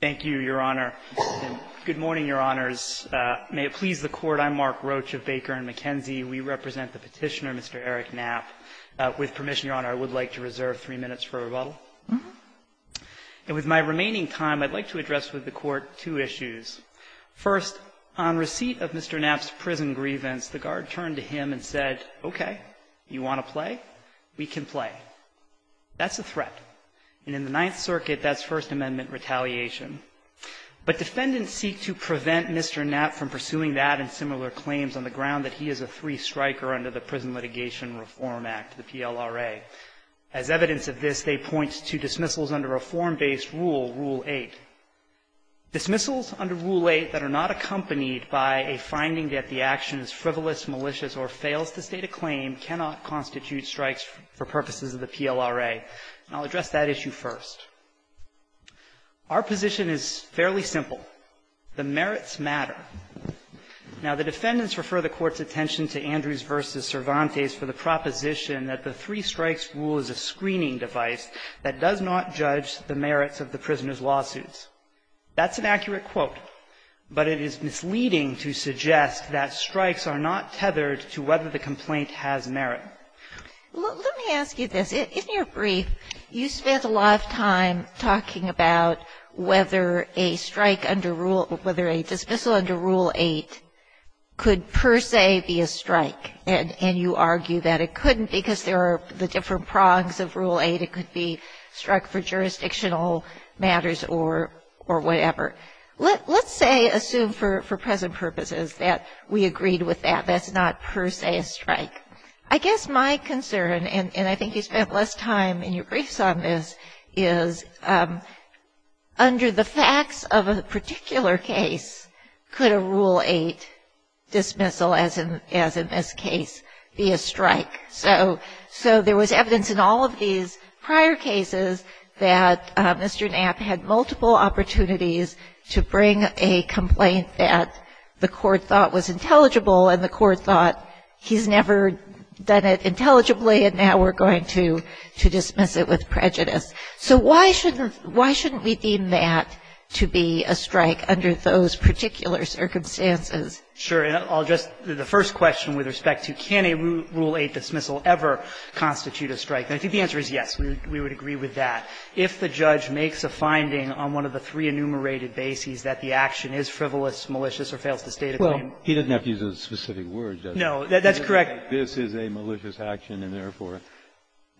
Thank you, Your Honor. Good morning, Your Honors. May it please the Court, I'm Mark Roach of Baker & McKenzie. We represent the petitioner, Mr. Eric Knapp. With permission, Your Honor, I would like to reserve three minutes for rebuttal. And with my remaining time, I'd like to address with the Court two issues. First, on receipt of Mr. Knapp's prison grievance, the guard turned to him and said, okay, you want to play? We can play. That's a threat. And in the Ninth Circuit, that's First Amendment retaliation. But defendants seek to prevent Mr. Knapp from pursuing that and similar claims on the ground that he is a three-striker under the Prison Litigation Reform Act, the PLRA. As evidence of this, they point to dismissals under a form-based rule, Rule 8. Dismissals under Rule 8 that are not accompanied by a finding that the action is frivolous, malicious, or fails to state a claim cannot constitute strikes for purposes of the PLRA. And I'll address that issue first. Our position is fairly simple. The merits matter. Now, the defendants refer the Court's attention to Andrews v. Cervantes for the proposition that the three-strikes rule is a screening device that does not judge the merits of the prisoner's lawsuits. That's an accurate quote. But it is misleading to suggest that strikes are not tethered to whether the complaint has merit. Sotomayor, let me ask you this. In your brief, you spent a lot of time talking about whether a strike under Rule — whether a dismissal under Rule 8 could per se be a strike, and you argue that it couldn't because there are the different prongs of Rule 8. It could be a strike for jurisdictional matters or whatever. Let's say, assume for present purposes that we agreed with that that's not per se a strike. I guess my concern, and I think you spent less time in your briefs on this, is under the facts of a particular case, could a Rule 8 dismissal, as in this case, be a strike? So there was evidence in all of these prior cases that Mr. Knapp had multiple opportunities to bring a complaint that the Court thought was intelligible, and the Court thought he's never done it intelligibly, and now we're going to dismiss it with prejudice. So why shouldn't we deem that to be a strike under those particular circumstances? Sure. And I'll just — the first question with respect to can a Rule 8 dismissal ever constitute a strike? And I think the answer is yes, we would agree with that. If the judge makes a finding on one of the three enumerated bases that the action is frivolous, malicious, or fails to state a claim. Well, he doesn't have to use a specific word, does he? No, that's correct. This is a malicious action, and therefore.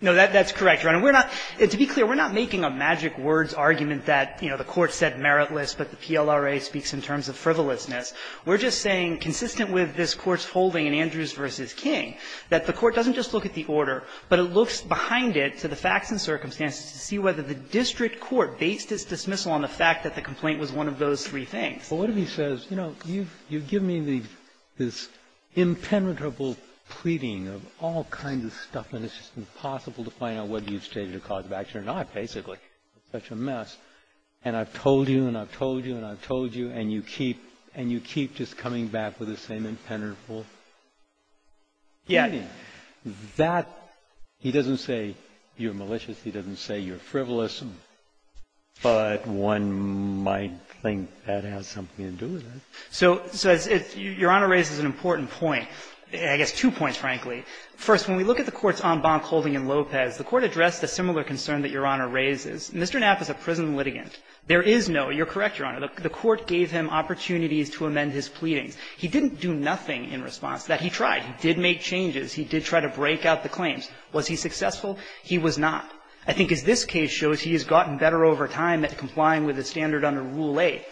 No, that's correct, Your Honor. We're not — to be clear, we're not making a magic words argument that, you know, the Court said meritless, but the PLRA speaks in terms of frivolousness. We're just saying, consistent with this Court's holding in Andrews v. King, that the Court doesn't just look at the order, but it looks behind it to the facts and circumstances to see whether the district court based its dismissal on the fact that the complaint was one of those three things. But what if he says, you know, you've given me this impenetrable pleading of all kinds of stuff, and it's just impossible to find out whether you've stated a cause of action or not, basically, it's such a mess, and I've told you and I've told you and I've told you, and you keep — and you keep just coming back with the same impenetrable pleading. Yeah. I mean, that — he doesn't say you're malicious, he doesn't say you're frivolous, but one might think that has something to do with it. So — so it's — Your Honor raises an important point, I guess two points, frankly. First, when we look at the Court's en banc holding in Lopez, the Court addressed a similar concern that Your Honor raises. Mr. Knapp is a prison litigant. There is no — you're correct, Your Honor — the Court gave him opportunities to amend his pleadings. He didn't do nothing in response to that. He tried. He did make changes. He did try to break out the claims. Was he successful? He was not. I think as this case shows, he has gotten better over time at complying with the standard under Rule 8.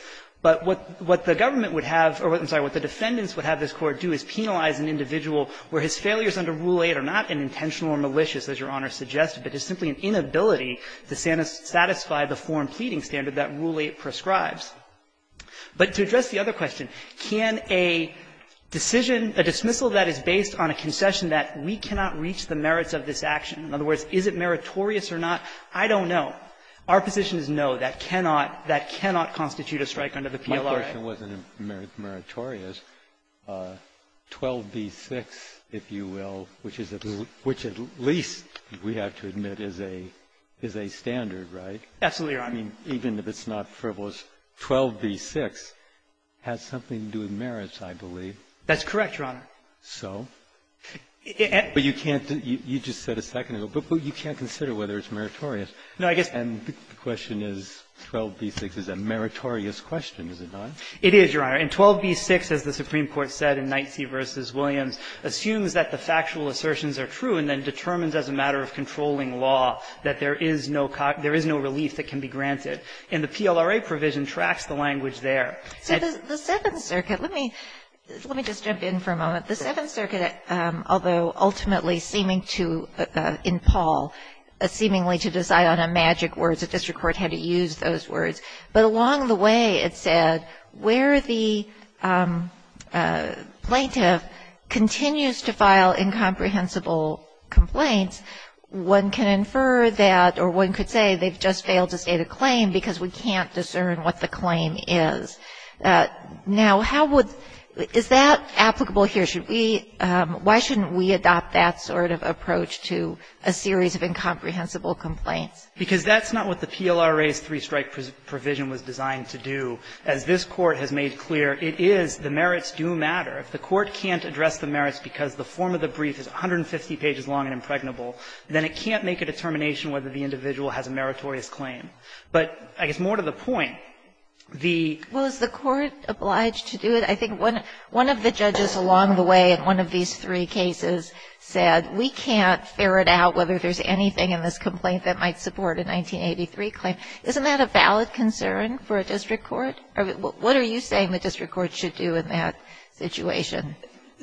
But what the government would have — or I'm sorry, what the defendants would have this Court do is penalize an individual where his failures under Rule 8 are not an intentional or malicious, as Your Honor suggested, but it's simply an inability to satisfy the foreign pleading standard that Rule 8 prescribes. But to address the other question, can a decision, a dismissal that is based on a concession that we cannot reach the merits of this action, in other words, is it meritorious or not, I don't know. Our position is no, that cannot — that cannot constitute a strike under the PLRA. My question wasn't meritorious. 12b-6, if you will, which is a — which at least we have to admit is a — is a standard, right? Absolutely, Your Honor. I mean, even if it's not frivolous, 12b-6 has something to do with merits, I believe. That's correct, Your Honor. So? But you can't — you just said a second ago, but you can't consider whether it's meritorious. No, I guess — And the question is, 12b-6 is a meritorious question, is it not? It is, Your Honor. And 12b-6, as the Supreme Court said in Knightsey v. Williams, assumes that the factual assertions are true and then determines as a matter of controlling law that there is no — there is no relief that can be granted. And the PLRA provision tracks the language there. So the Seventh Circuit — let me — let me just jump in for a moment. The Seventh Circuit, although ultimately seeming to — in Paul, seemingly to decide on a magic word, the district court had to use those words, but along the way, it said where the plaintiff continues to file incomprehensible complaints, one can infer that or one could say they've just failed to state a claim because we can't discern what the claim is. Now, how would — is that applicable here? Should we — why shouldn't we adopt that sort of approach to a series of incomprehensible complaints? Because that's not what the PLRA's three-strike provision was designed to do. As this Court has made clear, it is the merits do matter. If the Court can't address the merits because the form of the brief is 150 pages long and impregnable, then it can't make a determination whether the individual has a meritorious claim. But I guess more to the point, the — Well, is the Court obliged to do it? I think one — one of the judges along the way in one of these three cases said, we can't ferret out whether there's anything in this complaint that might support a 1983 claim. Isn't that a valid concern for a district court? What are you saying the district court should do in that situation?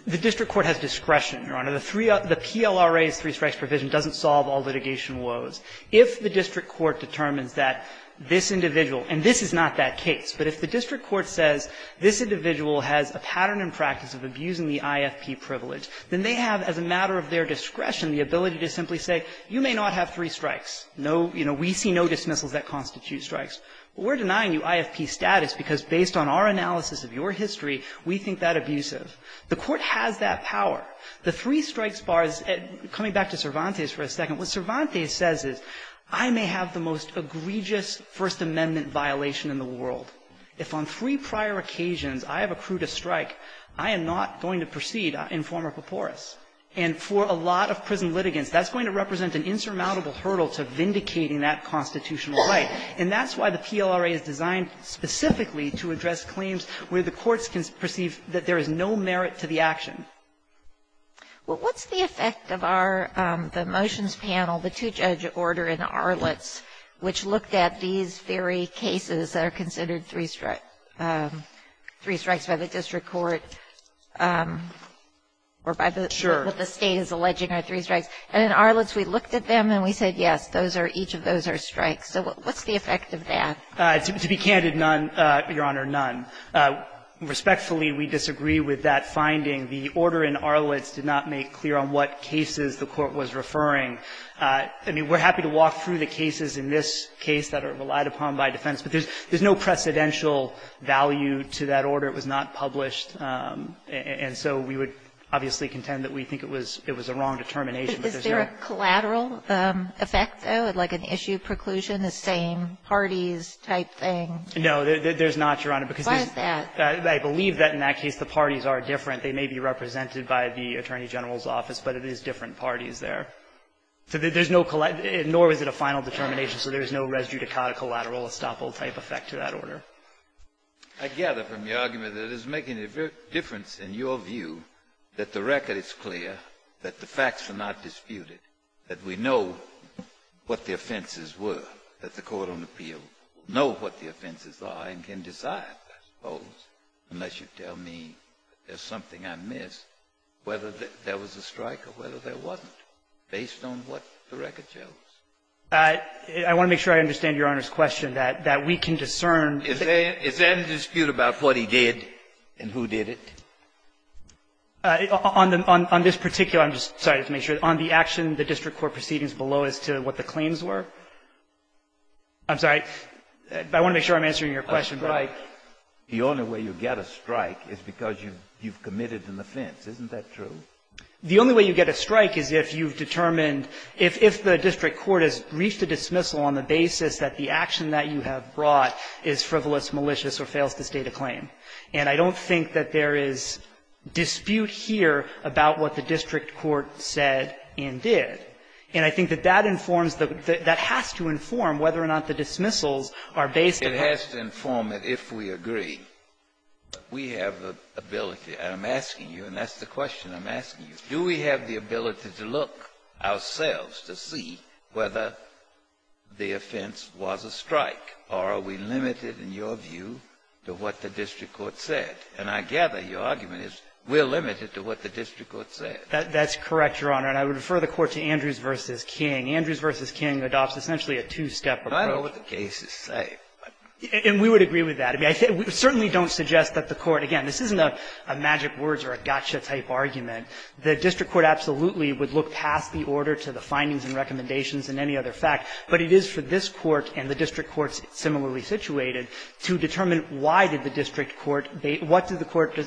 The district court has discretion, Your Honor. The three — the PLRA's three-strikes provision doesn't solve all litigation woes. If the district court determines that this individual — and this is not that case, but if the district court says this individual has a pattern and practice of abusing the IFP privilege, then they have, as a matter of their discretion, the ability to simply say, you may not have three strikes. No — you know, we see no dismissals that constitute strikes. We're denying you IFP status because, based on our analysis of your history, we think that abusive. The Court has that power. The three-strikes bar is — coming back to Cervantes for a second, what Cervantes says is, I may have the most egregious First Amendment violation in the world. If on three prior occasions I have accrued a strike, I am not going to proceed in form of paporus. And for a lot of prison litigants, that's going to represent an insurmountable hurdle to vindicating that constitutional right. And that's why the PLRA is designed specifically to address claims where the courts can perceive that there is no merit to the action. Well, what's the effect of our — the motions panel, the two-judge order in Arlitz, which looked at these very cases that are considered three-strike — three-strikes by the district court, or by the — Sure. What the State is alleging are three-strikes. And in Arlitz, we looked at them and we said, yes, those are — each of those are strikes. So what's the effect of that? To be candid, none, Your Honor, none. Respectfully, we disagree with that finding. The order in Arlitz did not make clear on what cases the Court was referring. I mean, we're happy to walk through the cases in this case that are relied upon by defense, but there's no precedential value to that order. It was not published. And so we would obviously contend that we think it was a wrong determination. But there's no — Is there a collateral effect, though, like an issue preclusion, the same parties No, there's not, Your Honor, because there's no — What is that? I believe that in that case the parties are different. They may be represented by the Attorney General's office, but it is different parties there. So there's no — nor is it a final determination, so there's no res judicata collateral estoppel-type effect to that order. I gather from your argument that it is making a difference in your view that the record is clear, that the facts are not disputed, that we know what the offenses were, that the court on appeal know what the offenses are and can decide, I suppose, unless you tell me there's something I missed, whether there was a strike or whether there wasn't, based on what the record shows. I want to make sure I understand Your Honor's question, that we can discern Is there a dispute about what he did and who did it? On this particular — I'm sorry, just to make sure — on the action, the district court proceedings below as to what the claims were? I'm sorry. I want to make sure I'm answering your question. Breyer. The only way you get a strike is because you've committed an offense. Isn't that true? The only way you get a strike is if you've determined — if the district court has reached a dismissal on the basis that the action that you have brought is frivolous, malicious, or fails to state a claim. And I don't think that there is dispute here about what the district court said and did. And I think that that informs the — that has to inform whether or not the dismissals are based upon — It has to inform it if we agree. We have the ability, and I'm asking you, and that's the question I'm asking you, do we have the ability to look ourselves to see whether the offense was a strike, or are we limited in your view to what the district court said? And I gather your argument is we're limited to what the district court said. That's correct, Your Honor. And I would refer the Court to Andrews v. King. Andrews v. King adopts essentially a two-step approach. I don't know what the cases say. And we would agree with that. I mean, I certainly don't suggest that the Court — again, this isn't a magic words or a gotcha-type argument. The district court absolutely would look past the order to the findings and recommendations and any other fact. But it is for this Court and the district courts similarly situated to determine why did the district court — what did the court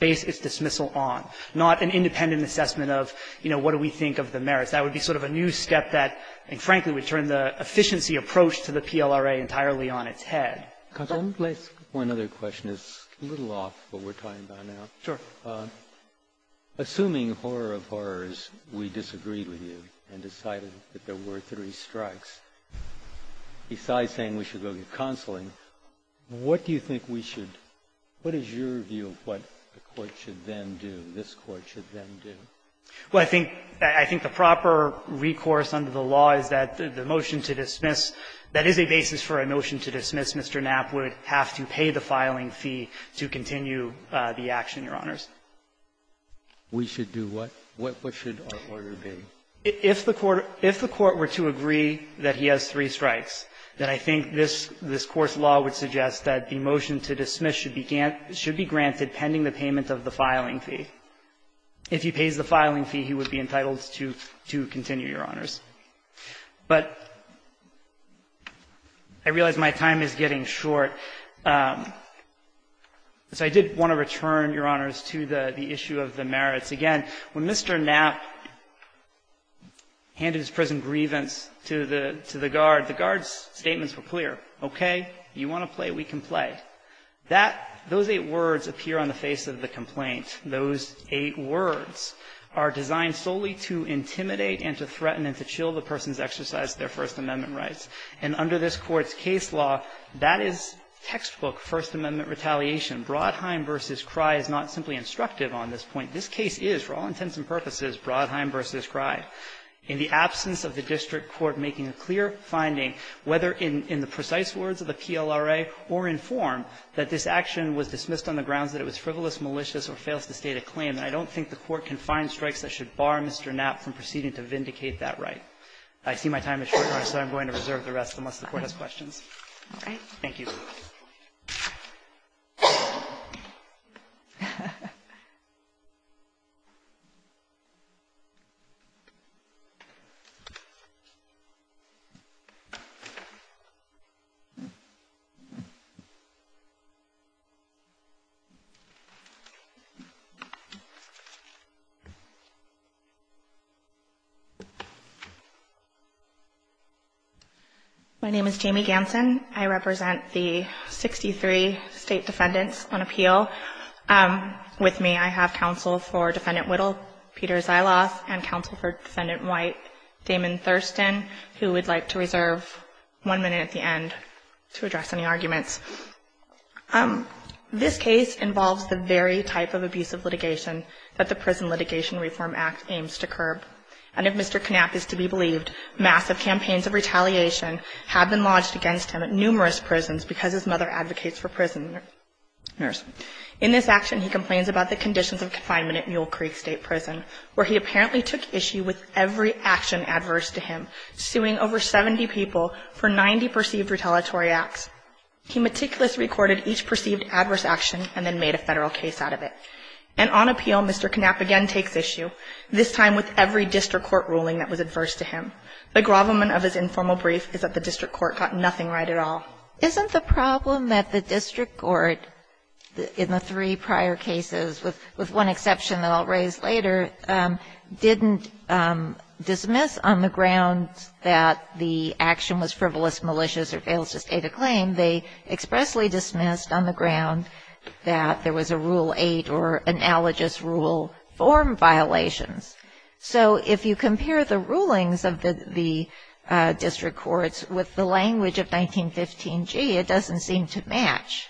base its dismissal on, not an independent assessment of, you know, what do we think of the merits. That would be sort of a new step that, I think, frankly, would turn the efficiency approach to the PLRA entirely on its head. Kagan. Let's go to another question. It's a little off what we're talking about now. Sure. Assuming horror of horrors, we disagreed with you and decided that there were three strikes, besides saying we should go get counseling, what do you think we should What is your view of what the Court should then do, this Court should then do? Well, I think — I think the proper recourse under the law is that the motion to dismiss, that is a basis for a motion to dismiss. Mr. Knapp would have to pay the filing fee to continue the action, Your Honors. We should do what? What should our order be? If the Court — if the Court were to agree that he has three strikes, then I think this — this court's law would suggest that the motion to dismiss should be granted pending the payment of the filing fee. If he pays the filing fee, he would be entitled to continue, Your Honors. But I realize my time is getting short, so I did want to return, Your Honors, to the issue of the merits. Again, when Mr. Knapp handed his prison grievance to the guard, the guard's statements were clear. Okay, you want to play, we can play. That — those eight words appear on the face of the complaint. Those eight words are designed solely to intimidate and to threaten and to chill the person's exercise of their First Amendment rights. And under this Court's case law, that is textbook First Amendment retaliation. Brodheim v. Cry is not simply instructive on this point. This case is, for all intents and purposes, Brodheim v. Cry. In the absence of the district court making a clear finding, whether in the precise words of the PLRA or in form, that this action was dismissed on the grounds that it was frivolous, malicious, or fails to state a claim, I don't think the court can find strikes that should bar Mr. Knapp from proceeding to vindicate that right. I see my time is short, Your Honors, so I'm going to reserve the rest unless the Court has questions. All right. Thank you. My name is Jamie Ganson. I represent the 63 state defendants on appeal. With me, I have counsel for Defendant Whittle, Peter Zyloth, and counsel for Defendant White, Damon Thurston, who we'd like to reserve one minute at the end to address any arguments. This case involves the very type of abusive litigation that the Prison Litigation Reform Act aims to curb, and if Mr. Knapp is to be believed, massive campaigns of retaliation have been lodged against him at numerous prisons because his mother advocates for prisoners. In this action, he complains about the conditions of confinement at Mule Creek State Prison, where he apparently took issue with every action adverse to him, suing over 70 people for 90 perceived retaliatory acts. He meticulously recorded each perceived adverse action and then made a Federal case out of it. And on appeal, Mr. Knapp again takes issue, this time with every district court ruling that was adverse to him. The grovelment of his informal brief is that the district court got nothing right at all. Isn't the problem that the district court, in the three prior cases, with one exception that I'll raise later, didn't dismiss on the ground that the action was frivolous, malicious, or fails to state a claim. They expressly dismissed on the ground that there was a Rule 8 or analogous rule form violations. So if you compare the rulings of the district courts with the language of 1915g, it doesn't seem to match.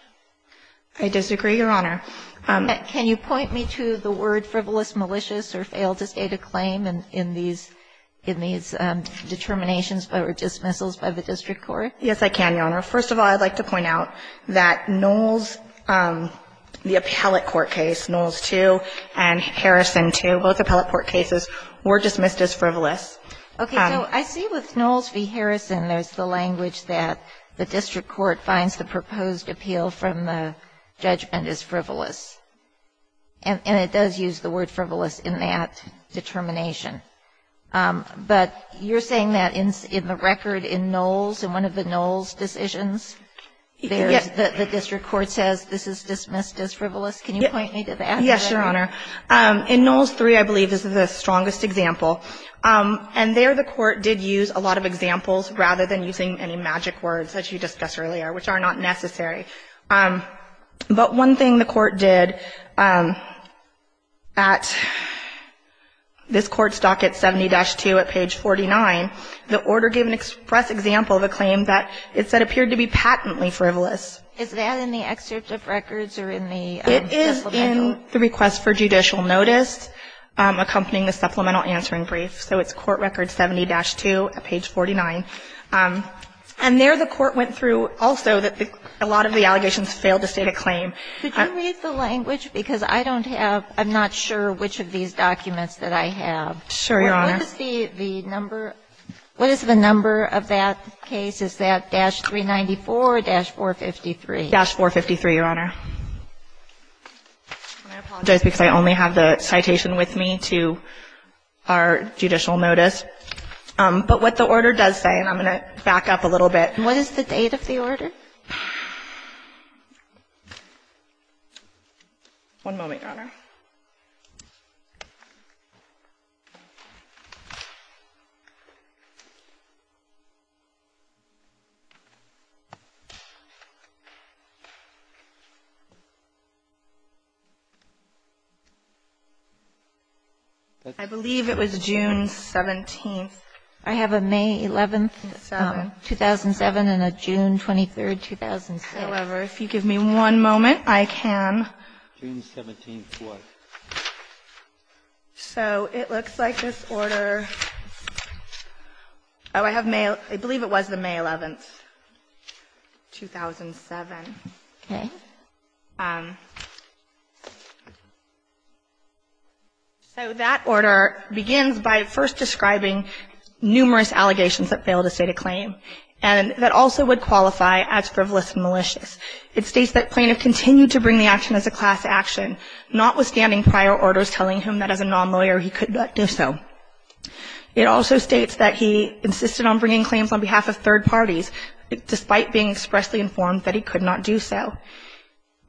I disagree, Your Honor. Can you point me to the word frivolous, malicious, or failed to state a claim in these determinations or dismissals by the district court? Yes, I can, Your Honor. First of all, I'd like to point out that Knowles, the appellate court case, Knowles 2, and Harrison 2, both appellate court cases, were dismissed as frivolous. Okay, so I see with Knowles v. Harrison, there's the language that the district court finds the proposed appeal from the judgment as frivolous. And it does use the word frivolous in that determination. But you're saying that in the record in Knowles, in one of the Knowles decisions, the district court says this is dismissed as frivolous? Can you point me to that? Yes, Your Honor. In Knowles 3, I believe, this is the strongest example. And there the court did use a lot of examples rather than using any magic words that you discussed earlier, which are not necessary. But one thing the court did at this Court's docket 70-2 at page 49, the order gave an express example of a claim that it said appeared to be patently frivolous. Is that in the excerpt of records or in the discipline manual? It's in the discipline manual, Your Honor. And it clearly states the court found the request for judicial notice, accompanying the supplemental answering brief. So it's Court Record 70-2 at page 49. And there the court went through, also, that a lot of the allegations failed to state a claim. Could you read the language? Because I don't have, I'm not sure which of these documents that I have. Sure, Your Honor. What is the number, what is the number of that case, is that dash 394 or dash 453? Dash 453, Your Honor. I apologize because I only have the citation with me to our judicial notice. But what the order does say, and I'm going to back up a little bit. What is the date of the order? One moment, Your Honor. I believe it was June 17th. I have a May 11th, 2007, and a June 23rd, 2006. However, if you give me one moment, I can. June 17th was? So it looks like this order, oh, I have May, I believe it was the May 11th, 2007. Okay. So that order begins by first describing numerous allegations that failed to state a claim and that also would qualify as frivolous and malicious. It states that plaintiff continued to bring the action as a class action, notwithstanding prior orders telling him that as a non-lawyer he could not do so. It also states that he insisted on bringing claims on behalf of third parties, despite being expressly informed that he could not do so.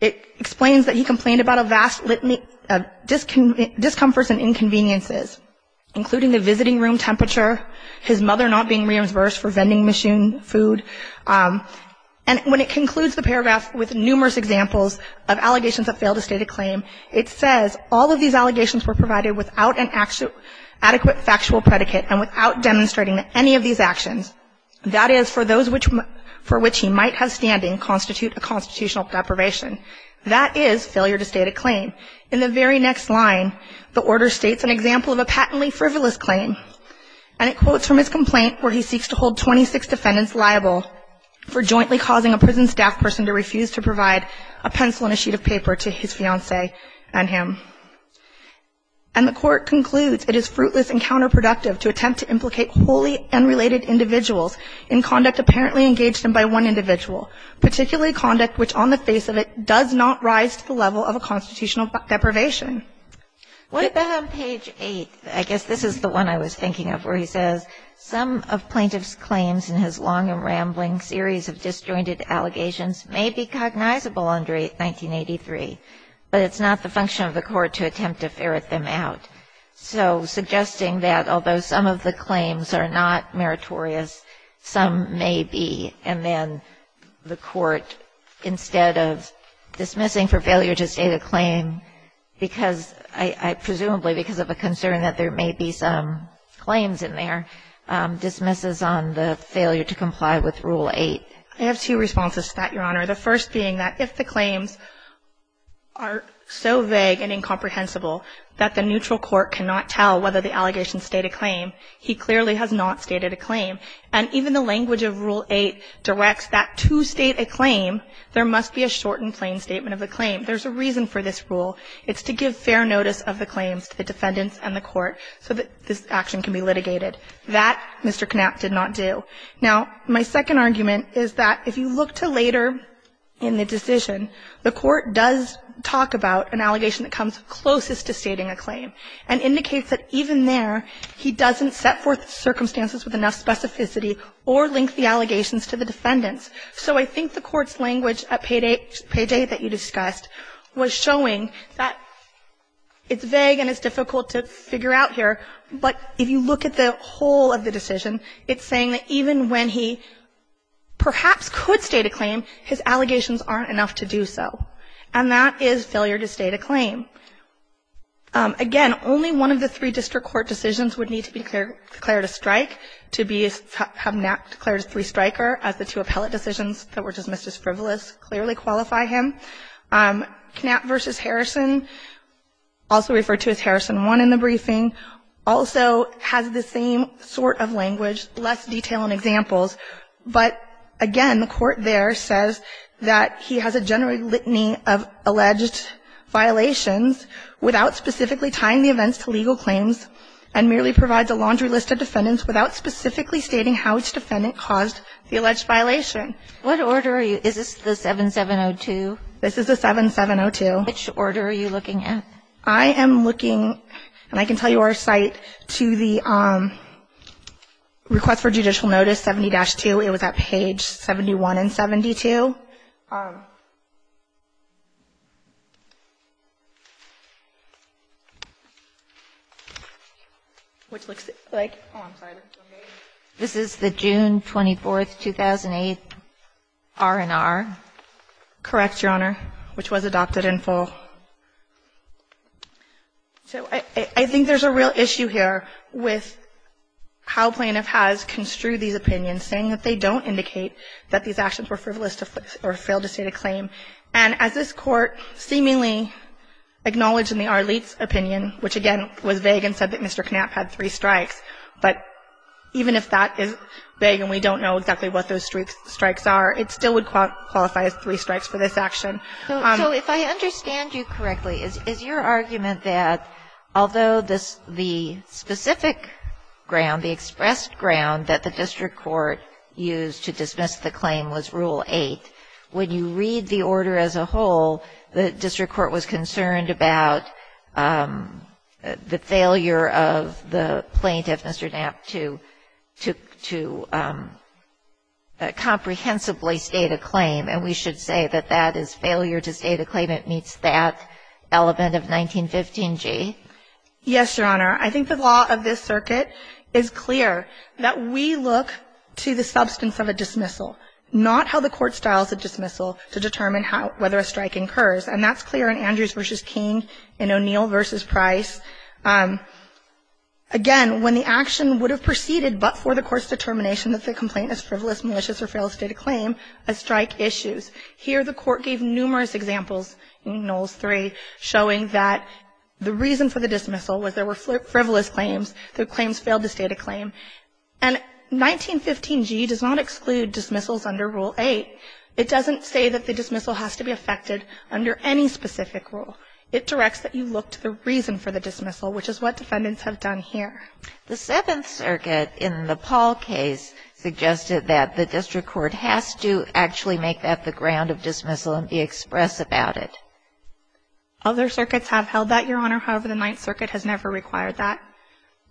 It explains that he complained about a vast litany of discomforts and inconveniences, including the visiting room temperature, his mother not being reimbursed for vending machine food. And when it concludes the paragraph with numerous examples of allegations that failed to state a claim, it says all of these allegations were provided without an adequate factual predicate and without demonstrating any of these actions. That is, for those for which he might have standing constitute a constitutional deprivation. That is failure to state a claim. In the very next line, the order states an example of a patently frivolous claim. And it quotes from his complaint where he seeks to hold 26 defendants liable for jointly causing a prison staff person to refuse to provide a pencil and a sheet of paper to his fiance and him. And the court concludes it is fruitless and counterproductive to attempt to implicate wholly unrelated individuals in conduct apparently engaged in by one individual, particularly conduct which on the face of it does not rise to the level of a constitutional deprivation. What about on page eight? I guess this is the one I was thinking of where he says, some of plaintiff's claims in his long and rambling series of disjointed allegations may be cognizable under 1983, but it's not the function of the court to attempt to ferret them out. So suggesting that although some of the claims are not meritorious, some may be, and then the court, instead of dismissing for presumably because of a concern that there may be some claims in there, dismisses on the failure to comply with rule eight. I have two responses to that, Your Honor. The first being that if the claims are so vague and incomprehensible that the neutral court cannot tell whether the allegations state a claim, he clearly has not stated a claim. And even the language of rule eight directs that to state a claim, there must be a shortened plain statement of the claim. There's a reason for this rule. It's to give fair notice of the claims to the defendants and the court so that this action can be litigated. That, Mr. Knapp did not do. Now, my second argument is that if you look to later in the decision, the court does talk about an allegation that comes closest to stating a claim and indicates that even there, he doesn't set forth circumstances with enough specificity or link the allegations to the defendants. So I think the court's language at page eight that you discussed was showing that it's vague and it's difficult to figure out here. But if you look at the whole of the decision, it's saying that even when he perhaps could state a claim, his allegations aren't enough to do so. And that is failure to state a claim. Again, only one of the three district court decisions would need to be declared a strike to have Knapp declared a three striker as the two appellate decisions that were dismissed as frivolous clearly qualify him. Knapp versus Harrison, also referred to as Harrison 1 in the briefing, also has the same sort of language, less detail and examples. But again, the court there says that he has a general litany of alleged violations without specifically tying the events to legal claims and merely provides a laundry list of defendants without specifically stating how its defendant caused the alleged violation. What order are you, is this the 7702? This is the 7702. Which order are you looking at? I am looking, and I can tell you our site, to the request for judicial notice 70-2, it was at page 71 and 72. Which looks like, I'm sorry, this is the June 24th, 2008, R&R. Correct, Your Honor, which was adopted in full. So I think there's a real issue here with how plaintiff has construed these opinions, saying that they don't indicate that these actions were frivolous or failed to state a claim. And as this court seemingly acknowledged in the Arlitz opinion, which again was vague and said that Mr. Knapp had three strikes. But even if that is vague and we don't know exactly what those strikes are, it still would qualify as three strikes for this action. So if I understand you correctly, is your argument that although the specific ground, the expressed ground that the district court used to dismiss the claim was Rule 8, when you read the order as a whole, the district court was concerned about the failure of the plaintiff, Mr. Knapp, to comprehensively state a claim. And we should say that that is failure to state a claim. It meets that element of 1915g. Yes, Your Honor. I think the law of this circuit is clear that we look to the substance of a dismissal. Not how the court styles a dismissal to determine whether a strike incurs. And that's clear in Andrews v. King, in O'Neill v. Price. Again, when the action would have proceeded but for the court's determination that the complaint is frivolous, malicious, or failed to state a claim, a strike issues. Here the court gave numerous examples in Knowles 3 showing that the reason for the dismissal was there were frivolous claims, the claims failed to state a claim. And 1915g does not exclude dismissals under Rule 8. It doesn't say that the dismissal has to be effected under any specific rule. It directs that you look to the reason for the dismissal, which is what defendants have done here. The Seventh Circuit in the Paul case suggested that the district court has to actually make that the ground of dismissal and be express about it. Other circuits have held that, Your Honor, however, the Ninth Circuit has never required that.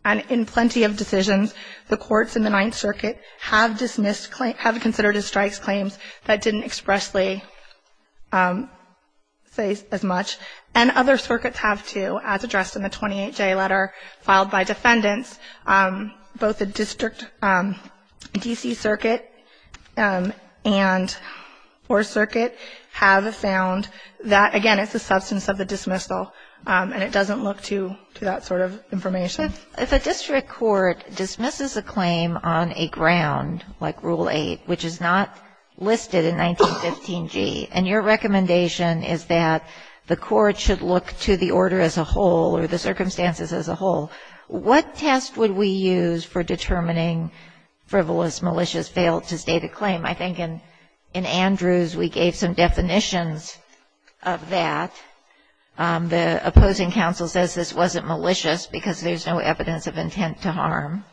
And in plenty of decisions, the courts in the Ninth Circuit have dismissed claims, have considered a strike's claims that didn't expressly say as much. And other circuits have, too, as addressed in the 28J letter filed by defendants. Both the District, DC Circuit, and Fourth Circuit have found that, again, it's the substance of the dismissal, and it doesn't look to that sort of information. If a district court dismisses a claim on a ground like Rule 8, which is not listed in 1915g, and your recommendation is that the court should look to the order as a whole or the circumstances as a whole, what test would we use for determining frivolous, malicious, failed-to-state-a-claim? I think in Andrews, we gave some definitions of that. The opposing counsel says this wasn't malicious because there's no evidence of intent to harm.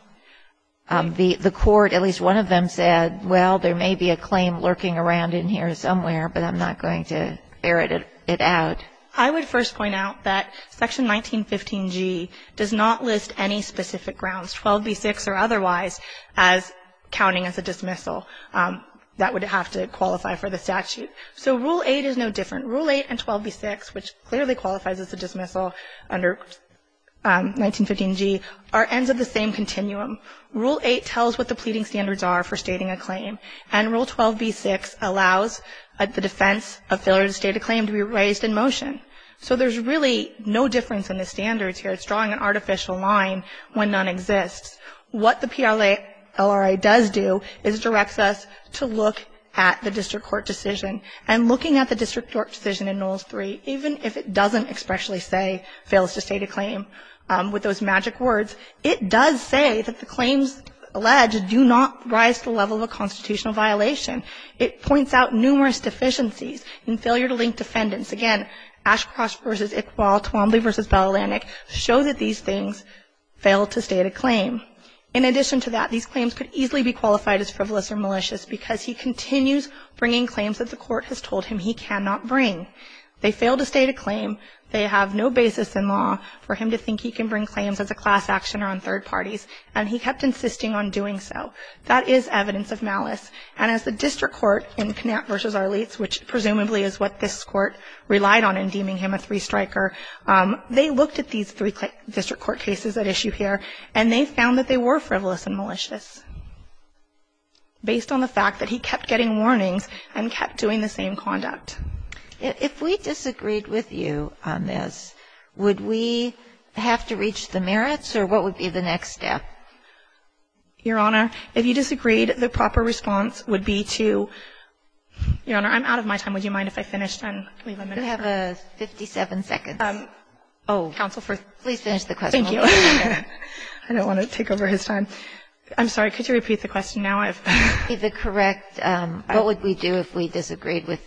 The court, at least one of them, said, well, there may be a claim lurking around in here somewhere, but I'm not going to ferret it out. I would first point out that Section 1915g does not list any specific grounds, 12b6 or otherwise, as counting as a dismissal. That would have to qualify for the statute. So Rule 8 is no different. Rule 8 and 12b6, which clearly qualifies as a dismissal under 1915g, are ends of the same continuum. Rule 8 tells what the pleading standards are for stating a claim, and Rule 12b6 allows the defense of failure to state a claim to be raised in motion. So there's really no difference in the standards here. It's drawing an artificial line when none exists. What the PLA LRA does do is directs us to look at the district court decision, and looking at the district court decision in Knowles 3, even if it doesn't expressly say fails to state a claim with those magic words, it does say that the claims alleged do not rise to the level of a constitutional violation. It points out numerous deficiencies in failure to link defendants. Again, Ashcross v. Iqbal, Twombly v. Bell-Alanek show that these things fail to state a claim. In addition to that, these claims could easily be qualified as frivolous or malicious because he continues bringing claims that the court has told him he cannot bring. They fail to state a claim. They have no basis in law for him to think he can bring claims as a class actioner on third parties, and he kept insisting on doing so. That is evidence of malice, and as the district court in Knapp v. Arlitz, which presumably is what this court relied on in deeming him a three-striker, they looked at these three district court cases at issue here, and they found that they were frivolous and malicious based on the fact that he kept getting warnings and kept doing the same conduct. If we disagreed with you on this, would we have to reach the merits, or what would be the next step? Your Honor, if you disagreed, the proper response would be to — Your Honor, I'm out of my time. Would you mind if I finished and leave a minute? You have 57 seconds. Oh. Counsel, please finish the question. Thank you. I don't want to take over his time. I'm sorry. Could you repeat the question now? The correct — what would we do if we disagreed with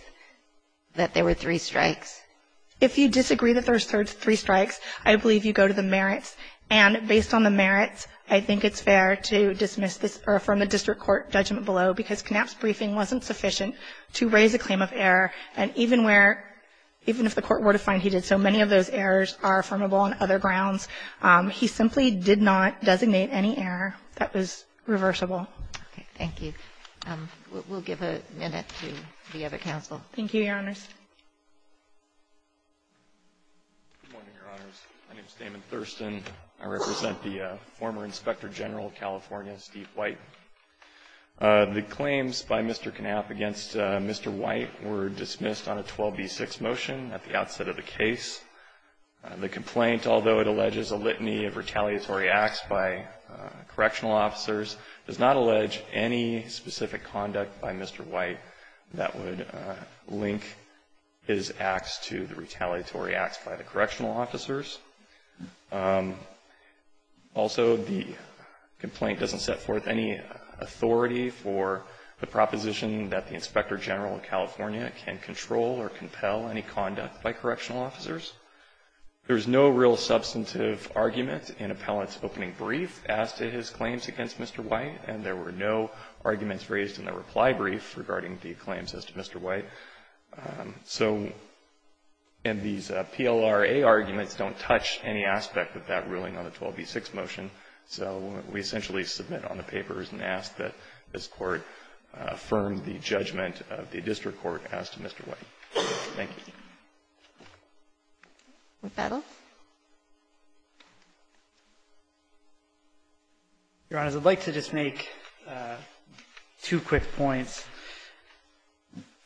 — that there were three strikes? If you disagree that there were three strikes, I believe you go to the merits, and based on the merits, I think it's fair to dismiss this or affirm the district court judgment below because Knapp's briefing wasn't sufficient to raise a claim of error, and even where — even if the court were to find he did so, many of those errors are affirmable on other grounds. He simply did not designate any error that was reversible. Okay. Thank you. We'll give a minute to the other counsel. Thank you, Your Honors. Good morning, Your Honors. My name is Damon Thurston. I represent the former Inspector General of California, Steve White. The claims by Mr. Knapp against Mr. White were dismissed on a 12b6 motion at the outset of the case. The complaint, although it alleges a litany of retaliatory acts by correctional officers, does not allege any specific conduct by Mr. White that would link his acts to the retaliatory acts by the correctional officers. Also the complaint doesn't set forth any authority for the proposition that the Inspector General of California can control or compel any conduct by correctional officers. There's no real substantive argument in appellant's opening brief as to his claims against Mr. White, and there were no arguments raised in the reply brief regarding the claims as to Mr. White. So — and these PLRA arguments don't touch any aspect of that ruling on the 12b6 motion, so we essentially submit on the papers and ask that this Court affirm the judgment of the district court as to Mr. White. Thank you. McHenry. Your Honors, I'd like to just make two quick points.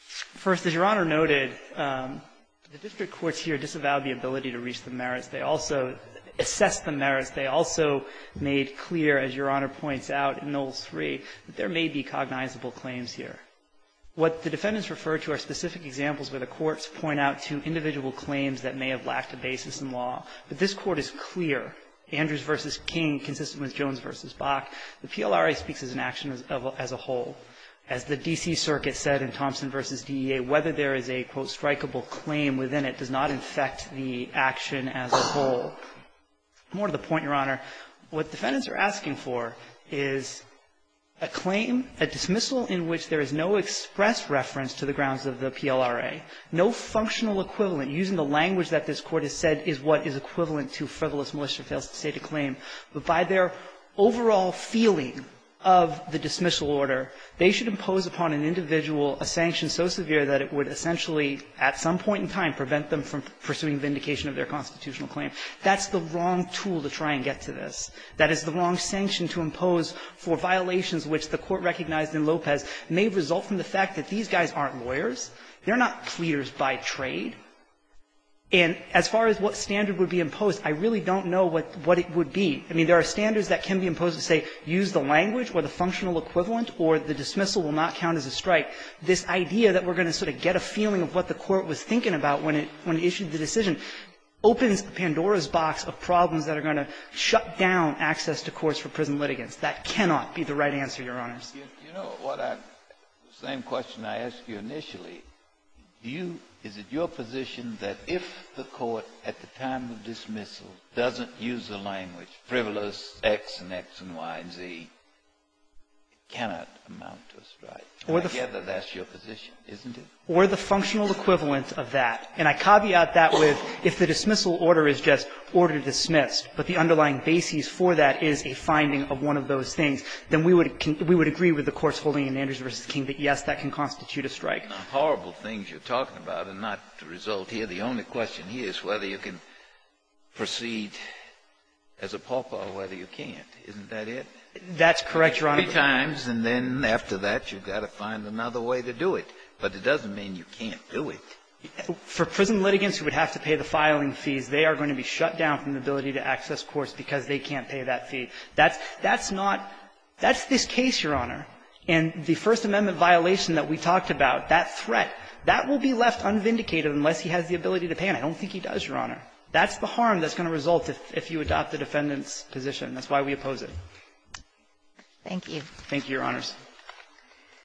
First, as Your Honor noted, the district courts here disavowed the ability to reach the merits. They also assessed the merits. They also made clear, as Your Honor points out in Rule 3, that there may be cognizable claims here. What the defendants refer to are specific examples where the courts point out to individual claims that may have lacked a basis in law. But this Court is clear, Andrews v. King consistent with Jones v. Bach, the PLRA speaks as an action as a whole. As the D.C. Circuit said in Thompson v. DEA, whether there is a, quote, strikeable claim within it does not infect the action as a whole. More to the point, Your Honor, what defendants are asking for is a claim, a dismissal in which there is no express reference to the grounds of the PLRA, no functional equivalent. Using the language that this Court has said is what is equivalent to frivolous militia fails to state a claim. But by their overall feeling of the dismissal order, they should impose upon an individual a sanction so severe that it would essentially at some point in time prevent them from pursuing vindication of their constitutional claim. That's the wrong tool to try and get to this. That is the wrong sanction to impose for violations which the Court recognized in Lopez may result from the fact that these guys aren't lawyers. They're not pleaders by trade. And as far as what standard would be imposed, I really don't know what it would be. I mean, there are standards that can be imposed that say use the language or the functional equivalent or the dismissal will not count as a strike. This idea that we're going to sort of get a feeling of what the Court was thinking about when it issued the decision opens Pandora's box of problems that are going to shut down access to courts for prison litigants. That cannot be the right answer, Your Honors. Kennedy. You know, the same question I asked you initially, do you – is it your position that if the Court at the time of dismissal doesn't use the language frivolous X and X and Y and Z, it cannot amount to a strike? I gather that's your position, isn't it? Or the functional equivalent of that. And I caveat that with if the dismissal order is just order dismissed, but the underlying basis for that is a finding of one of those things, then we would agree with the Court's holding in Andrews v. King that, yes, that can constitute a strike. The horrible things you're talking about are not the result here. The only question here is whether you can proceed as a pawpaw or whether you can't. Isn't that it? That's correct, Your Honor. Three times, and then after that, you've got to find another way to do it. But it doesn't mean you can't do it. For prison litigants who would have to pay the filing fees, they are going to be shut down from the ability to access courts because they can't pay that fee. That's not – that's this case, Your Honor. And the First Amendment violation that we talked about, that threat, that will be left unvindicated unless he has the ability to pay, and I don't think he does, Your Honor. That's the harm that's going to result if you adopt the defendant's position. That's why we oppose it. Thank you. Thank you, Your Honors.